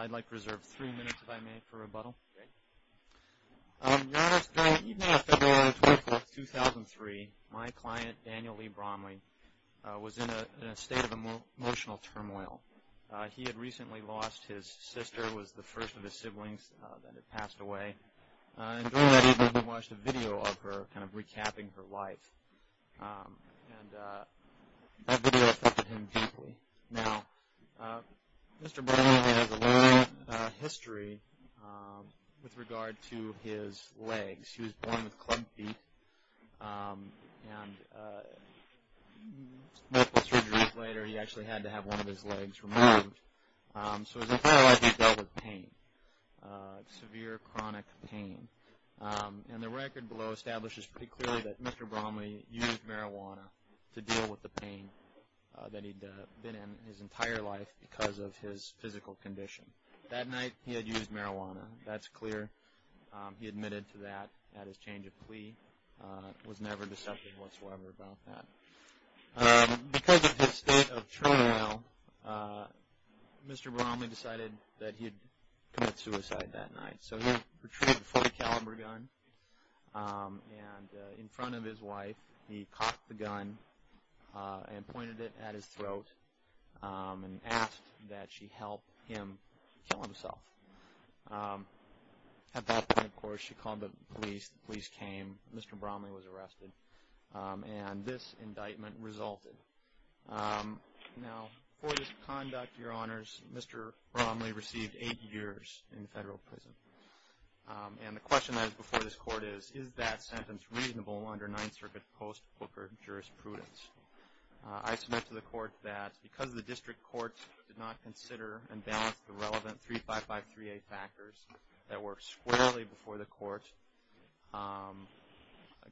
I'd like to reserve three minutes if I may for rebuttal. On February 24th, 2003, my client, Daniel Lee Bromlie, was in a state of emotional turmoil. He had recently lost his sister, was the first of his siblings that had passed away. And during that evening, he watched a video of her, kind of recapping her life. And that video affected him deeply. Now, Mr. Bromlie has a long history with regard to his legs. He was born with club feet. And multiple surgeries later, he actually had to have one of his legs removed. So his entire life he's dealt with pain, severe chronic pain. And the record below establishes pretty clearly that Mr. Bromlie used marijuana to deal with the pain that he'd been in his entire life because of his physical condition. That night he had used marijuana. That's clear. He admitted to that at his change of plea. Was never deceptive whatsoever about that. Because of his state of turmoil, Mr. Bromlie decided that he'd commit suicide that night. So he retrieved a .40 caliber gun. And in front of his wife, he cocked the gun and pointed it at his throat and asked that she help him kill himself. At that point, of course, she called the police. The police came. Mr. Bromlie was arrested. And this indictment resulted. Now, for this conduct, Your Honors, Mr. Bromlie received eight years in federal prison. And the question that is before this Court is, is that sentence reasonable under Ninth Circuit post-Booker jurisprudence? I submit to the Court that because the district court did not consider and balance the relevant 35538 factors that work squarely before the Court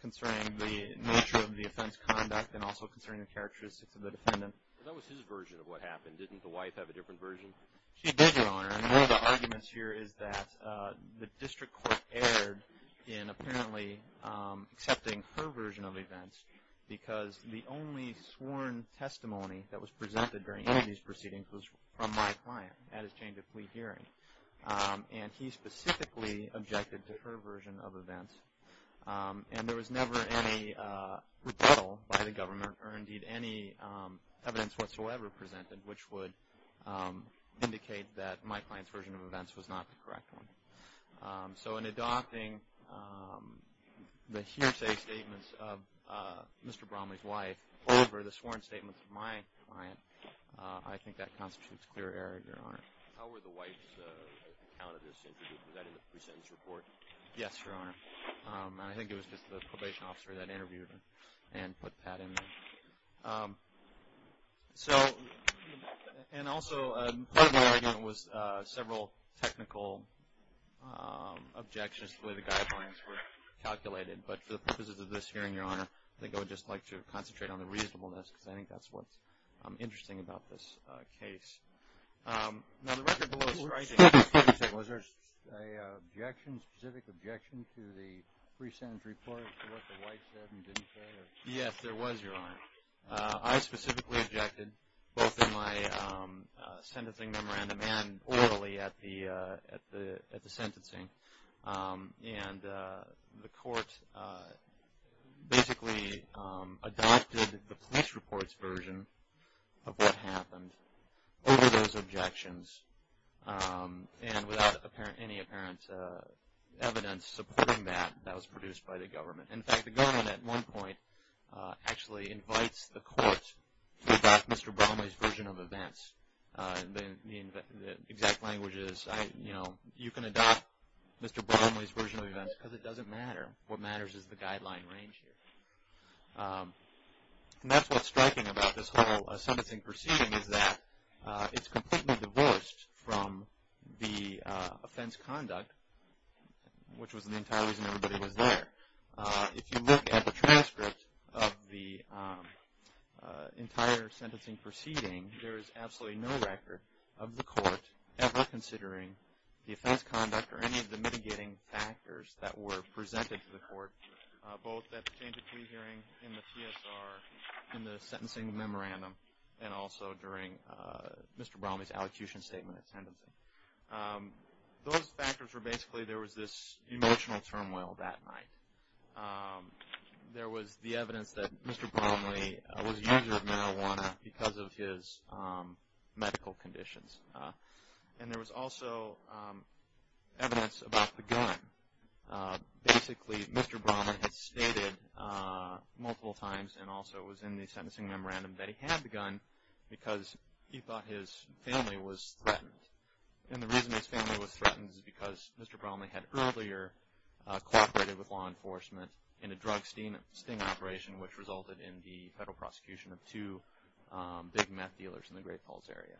concerning the nature of the offense conduct and also concerning the characteristics of the defendant. That was his version of what happened. Didn't the wife have a different version? She did, Your Honor. And one of the arguments here is that the district court erred in apparently accepting her version of events because the only sworn testimony that was presented during any of these proceedings was from my client at his change of plea hearing. And he specifically objected to her version of events. And there was never any rebuttal by the government or, indeed, any evidence whatsoever presented which would indicate that my client's version of events was not the correct one. So in adopting the hearsay statements of Mr. Bromlie's wife over the sworn statements of my client, I think that constitutes clear error, Your Honor. How were the wife's account of this interview? Was that in the pre-sentence report? Yes, Your Honor. And I think it was just the probation officer that interviewed her and put Pat in there. And also part of the argument was several technical objections to the way the guidelines were calculated. But for the purposes of this hearing, Your Honor, I think I would just like to concentrate on the reasonableness because I think that's what's interesting about this case. Now, the record below is striking. Was there a specific objection to the pre-sentence report to what the wife said and didn't say? Yes, there was, Your Honor. I specifically objected both in my sentencing memorandum and orally at the sentencing. And the court basically adopted the police report's version of what happened over those objections and without any apparent evidence supporting that. That was produced by the government. In fact, the government at one point actually invites the court to adopt Mr. Bromley's version of events. The exact language is, you know, you can adopt Mr. Bromley's version of events because it doesn't matter. What matters is the guideline range here. And that's what's striking about this whole sentencing proceeding is that it's completely divorced from the offense conduct, which was the entire reason everybody was there. If you look at the transcript of the entire sentencing proceeding, there is absolutely no record of the court ever considering the offense conduct or any of the mitigating factors that were presented to the court, both at the change of plea hearing, in the TSR, in the sentencing memorandum, and also during Mr. Bromley's allocution statement at sentencing. Those factors were basically there was this emotional turmoil that night. There was the evidence that Mr. Bromley was a user of marijuana because of his medical conditions. And there was also evidence about the gun. Basically, Mr. Bromley had stated multiple times, and also it was in the sentencing memorandum, that he had the gun because he thought his family was threatened. And the reason his family was threatened is because Mr. Bromley had earlier cooperated with law enforcement in a drug sting operation, which resulted in the federal prosecution of two big meth dealers in the Great Falls area.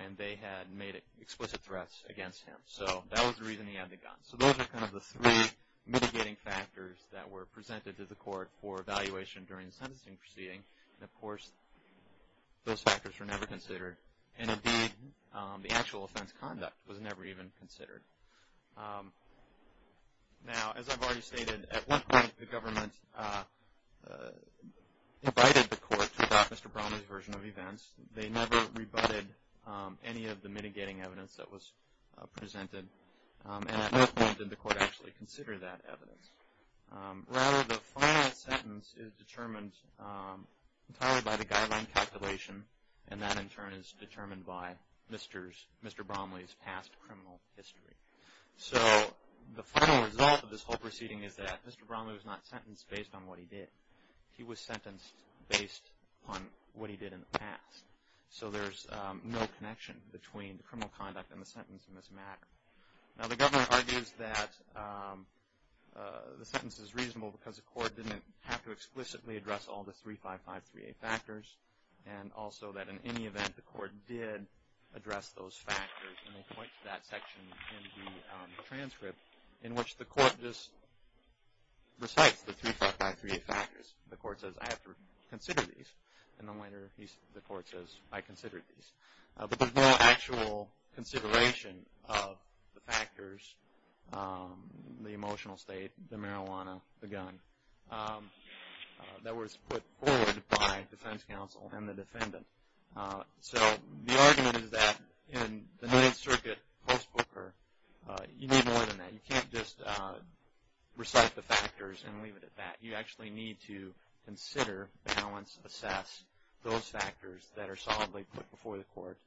And they had made explicit threats against him. So that was the reason he had the gun. So those are kind of the three mitigating factors that were presented to the court for evaluation during the sentencing proceeding. And, of course, those factors were never considered. And, indeed, the actual offense conduct was never even considered. Now, as I've already stated, at one point the government invited the court to adopt Mr. Bromley's version of events. They never rebutted any of the mitigating evidence that was presented. And at no point did the court actually consider that evidence. Rather, the final sentence is determined entirely by the guideline calculation, and that, in turn, is determined by Mr. Bromley's past criminal history. So the final result of this whole proceeding is that Mr. Bromley was not sentenced based on what he did. He was sentenced based on what he did in the past. So there's no connection between the criminal conduct and the sentence in this matter. Now, the government argues that the sentence is reasonable because the court didn't have to explicitly address all the 355-3A factors, and also that in any event the court did address those factors. And they point to that section in the transcript in which the court just recites the 355-3A factors. The court says, I have to consider these. And then later the court says, I considered these. But there's no actual consideration of the factors, the emotional state, the marijuana, the gun, that was put forward by defense counsel and the defendant. So the argument is that in the Ninth Circuit Post Booker, you need more than that. You can't just recite the factors and leave it at that. You actually need to consider, balance, assess those factors that are solidly put before the court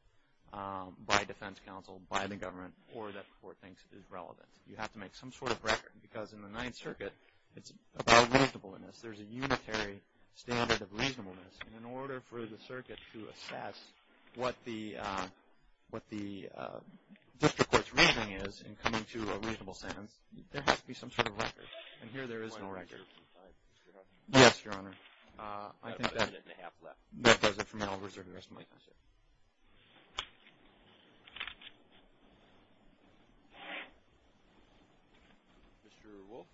by defense counsel, by the government, or that the court thinks is relevant. You have to make some sort of record because in the Ninth Circuit, it's about reasonableness. There's a unitary standard of reasonableness. And in order for the circuit to assess what the district court's reasoning is in coming to a reasonable sentence, there has to be some sort of record. And here there is no record. Yes, Your Honor. I think that does it for me. I'll reserve the rest of my time. Mr. Wolfe?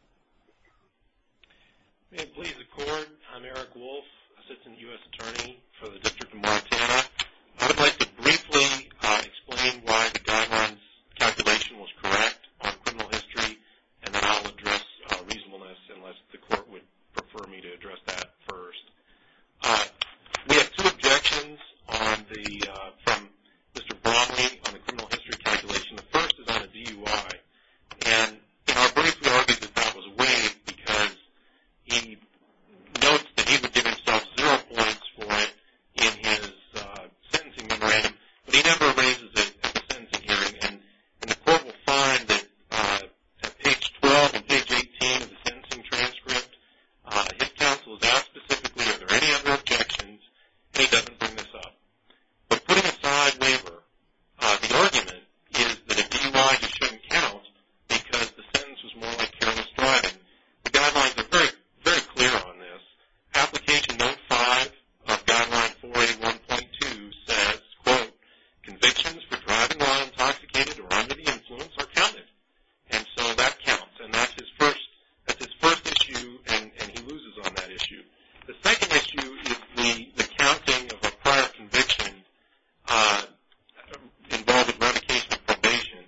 May it please the Court, I'm Eric Wolfe, Assistant U.S. Attorney for the District of Montana. I'd like to briefly explain why the guidelines calculation was correct on criminal history, and then I'll address reasonableness unless the court would prefer me to address that first. We have two objections from Mr. Bromley on the criminal history calculation. The first is on the DUI. And in our brief, we argue that that was waived because he notes that he would give himself zero points for it in his sentencing memorandum, but he never raises it at the sentencing hearing. And the court will find that at page 12 and page 18 of the sentencing transcript, if counsel is asked specifically are there any other objections, he doesn't bring this up. But putting aside waiver, the argument is that a DUI just shouldn't count because the sentence was more like careless driving. The guidelines are very clear on this. Application Note 5 of Guideline 481.2 says, quote, convictions for driving while intoxicated or under the influence are counted. And so that counts, and that's his first issue, and he loses on that issue. The second issue is the counting of a prior conviction involved in revocation of probation.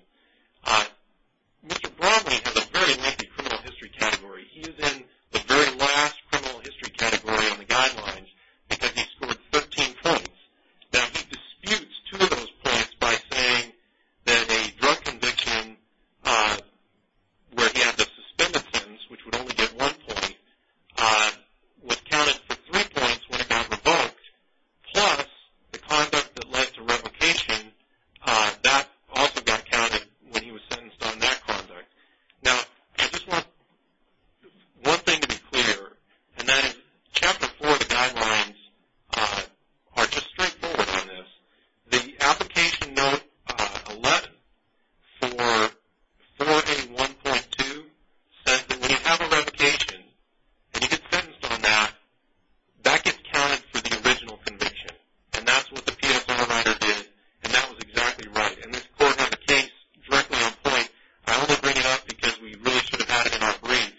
Mr. Bromley has a very lengthy criminal history category. He is in the very last criminal history category on the guidelines because he scored 13 points. Now, he disputes two of those points by saying that a drug conviction where he had the suspended sentence, which would only get one point, was counted for three points when it got revoked, plus the conduct that led to revocation, that also got counted when he was sentenced on that conduct. Now, I just want one thing to be clear, and that is Chapter 4 of the guidelines are just straightforward on this. The Application Note 11 for 481.2 says that when you have a revocation and you get sentenced on that, that gets counted for the original conviction, and that's what the PFR rider did, and that was exactly right. And this court had the case directly on point. I only bring it up because we really should have had it in our brief,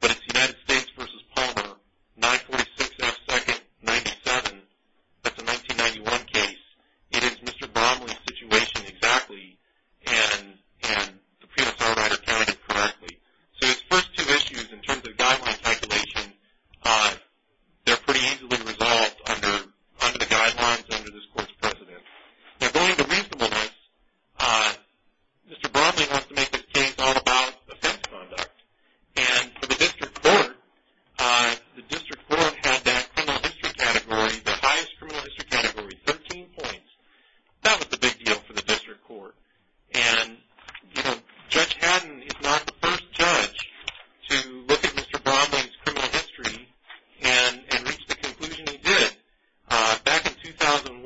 but it's United States v. Palmer, 946 F. Second, 97. That's a 1991 case. It is Mr. Bromley's situation exactly, and the PFR rider counted it correctly. So his first two issues in terms of guideline calculation, they're pretty easily resolved under the guidelines under this court's precedent. Now, going to reasonableness, Mr. Bromley wants to make this case all about offense conduct. And for the district court, the district court had that criminal history category, the highest criminal history category, 13 points. That was the big deal for the district court. And, you know, Judge Haddon is not the first judge to look at Mr. Bromley's criminal history and reach the conclusion he did. Back in 2001,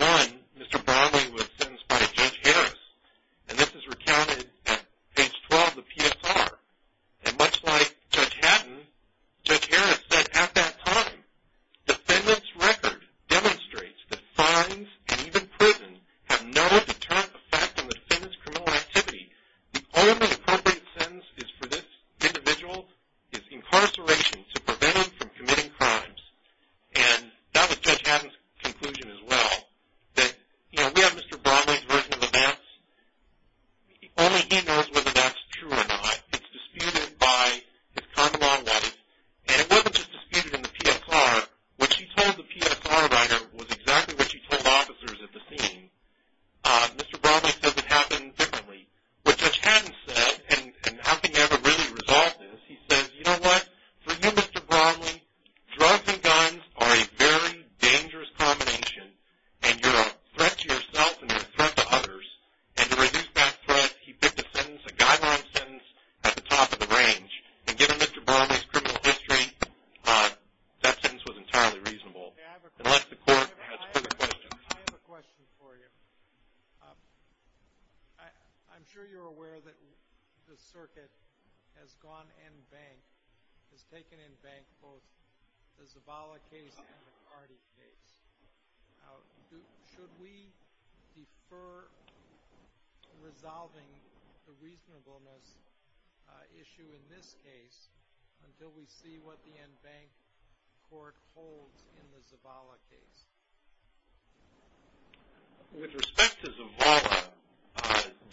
Mr. Bromley was sentenced by Judge Harris, and this is recounted at page 12 of the PSR. And much like Judge Haddon, Judge Harris said at that time, defendant's record demonstrates that fines and even prison have no deterrent effect on the defendant's criminal activity. The only appropriate sentence for this individual is incarceration to prevent him from committing crimes. And that was Judge Haddon's conclusion as well, that, you know, we have Mr. Bromley's version of events. Only he knows whether that's true or not. It's disputed by his common law life. And it wasn't just disputed in the PSR. What he told the PFR rider was exactly what he told officers at the scene. Mr. Bromley said it happened differently. What Judge Haddon said, and I don't think he ever really resolved this, he says, you know what, for you, Mr. Bromley, drugs and guns are a very dangerous combination, and you're a threat to yourself and you're a threat to others. And to reduce that threat, he picked a sentence, a guideline sentence, at the top of the range. And given Mr. Bromley's criminal history, that sentence was entirely reasonable. And let the court ask further questions. I have a question for you. I'm sure you're aware that the circuit has gone en banc, has taken en banc both the Zavala case and the McCarty case. Should we defer resolving the reasonableness issue in this case until we see what the en banc court holds in the Zavala case? With respect to Zavala,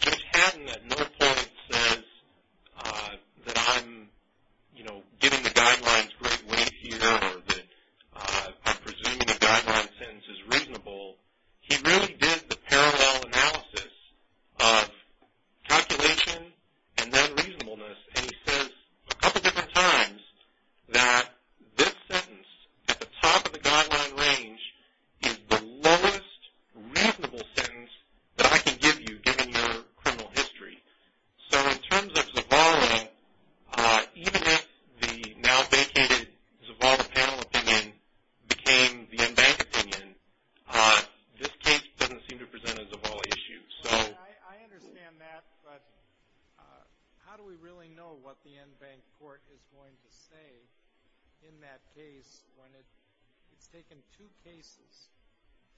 Judge Haddon at no point says that I'm, you know, getting the guidelines the right way here or that I'm presuming the guideline sentence is reasonable. He really did the parallel analysis of calculation and then reasonableness, and he says a couple different times that this sentence, at the top of the guideline range, is the lowest reasonable sentence that I can give you, given your criminal history. So in terms of Zavala, even if the now vacated Zavala panel opinion became the en banc opinion, this case doesn't seem to present a Zavala issue. I understand that, but how do we really know what the en banc court is going to say in that case when it's taken two cases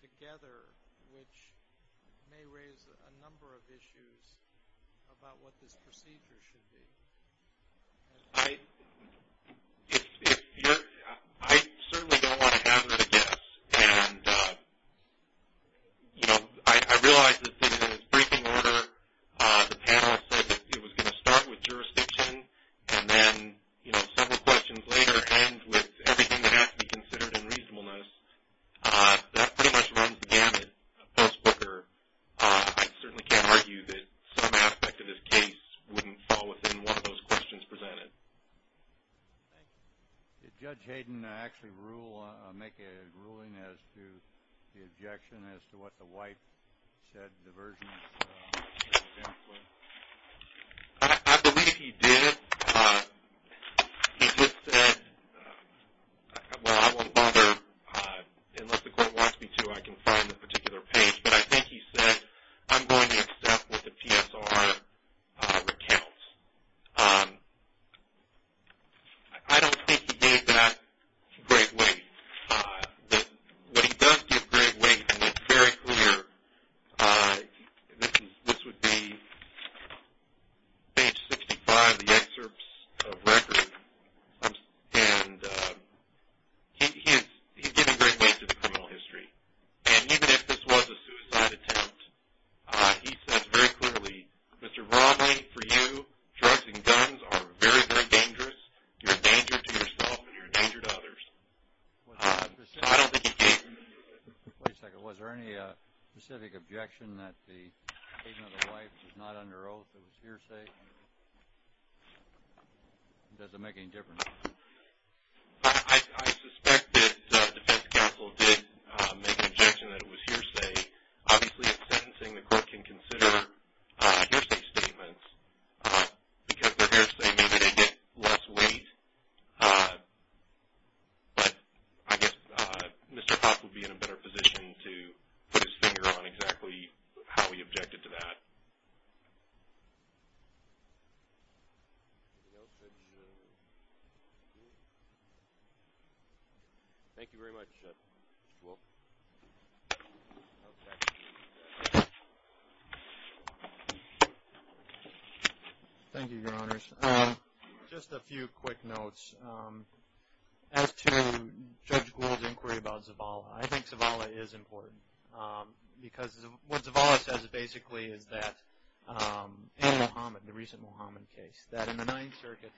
together, which may raise a number of issues about what this procedure should be? I certainly don't want to hazard a guess, and, you know, I realize this is a briefing order. The panelist said that it was going to start with jurisdiction and then, you know, several questions later end with everything that has to be considered in reasonableness. That pretty much runs the gamut. I certainly can't argue that some aspect of this case wouldn't fall within one of those questions presented. Thank you. Did Judge Hayden actually make a ruling as to the objection as to what the wife said the version of the sentence was? I believe he did. He just said, well, I won't bother. Unless the court wants me to, I can find the particular page. But I think he said, I'm going to accept what the PSR recounts. I don't think he gave that great weight. But he does give great weight, and it's very clear. This would be page 65 of the excerpts of record. And he's given great weight to the criminal history. And even if this was a suicide attempt, he said very clearly, Mr. Romney, for you, drugs and guns are very, very dangerous. You're a danger to yourself, and you're a danger to others. I don't think he gave that weight. Wait a second. Was there any specific objection that the statement of the wife was not under oath, it was hearsay? Does it make any difference? I suspect that the defense counsel did make an objection that it was hearsay. Obviously, in sentencing, the court can consider hearsay statements. Because they're hearsay, maybe they get less weight. But I guess Mr. Hoff would be in a better position to put his finger on exactly how he objected to that. Anything else, Judge Gould? Thank you very much, Judge Gould. Thank you, Your Honors. Just a few quick notes. As to Judge Gould's inquiry about Zavala, I think Zavala is important. Because what Zavala says, basically, is that in the recent Mohammed case, that in the Ninth Circuit,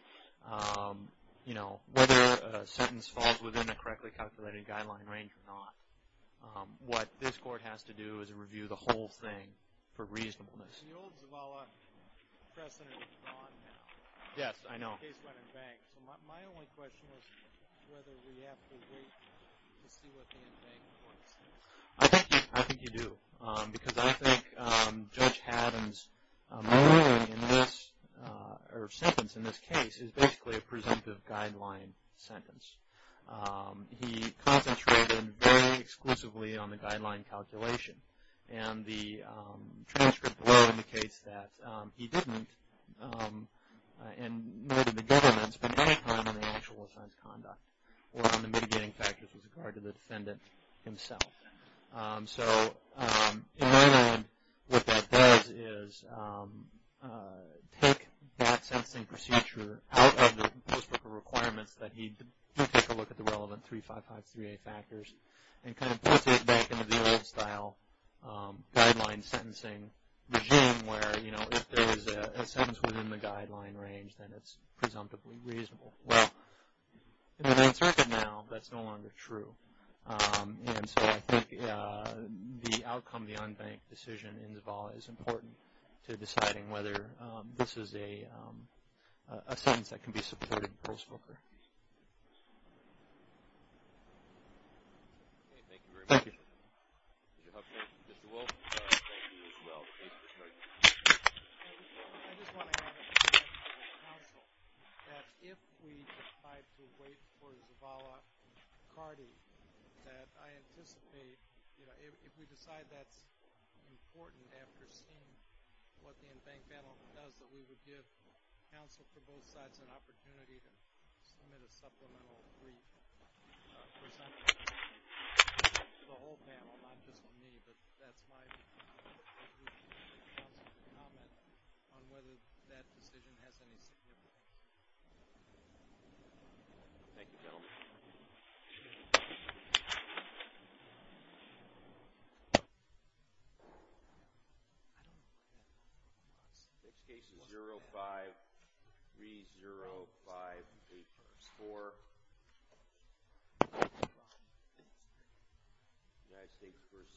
whether a sentence falls within a correctly calculated guideline range or not, what this court has to do is review the whole thing for reasonableness. The old Zavala precedent is gone now. Yes, I know. The case went unbanked. My only question is whether we have to wait to see what the unbanked court says. I think you do. Because I think Judge Haddon's ruling in this, or sentence in this case, is basically a presumptive guideline sentence. He concentrated very exclusively on the guideline calculation. And the transcript below indicates that he didn't, and neither did the government, spend any time on the actual assigned conduct or on the mitigating factors with regard to the defendant himself. So, in my mind, what that does is take that sentencing procedure out of the post-booker requirements that he did take a look at the relevant 3553A factors and kind of puts it back into the old style guideline sentencing regime where, you know, if there is a sentence within the guideline range, then it's presumptively reasonable. Well, in the Ninth Circuit now, that's no longer true. And so I think the outcome of the unbanked decision in Zavala is important to deciding whether this is a sentence that can be supported post-booker. Thank you. Mr. Wolf? Thank you as well. I just want to add a point of counsel that if we decide to wait for Zavala-Cardi, that I anticipate, you know, if we decide that's important after seeing what the unbanked battle does, that we would give counsel for both sides an opportunity to submit a supplemental brief and present it to the whole panel, not just to me, but that's my brief to make counsel's comment on whether that decision has any significance. Thank you, gentlemen.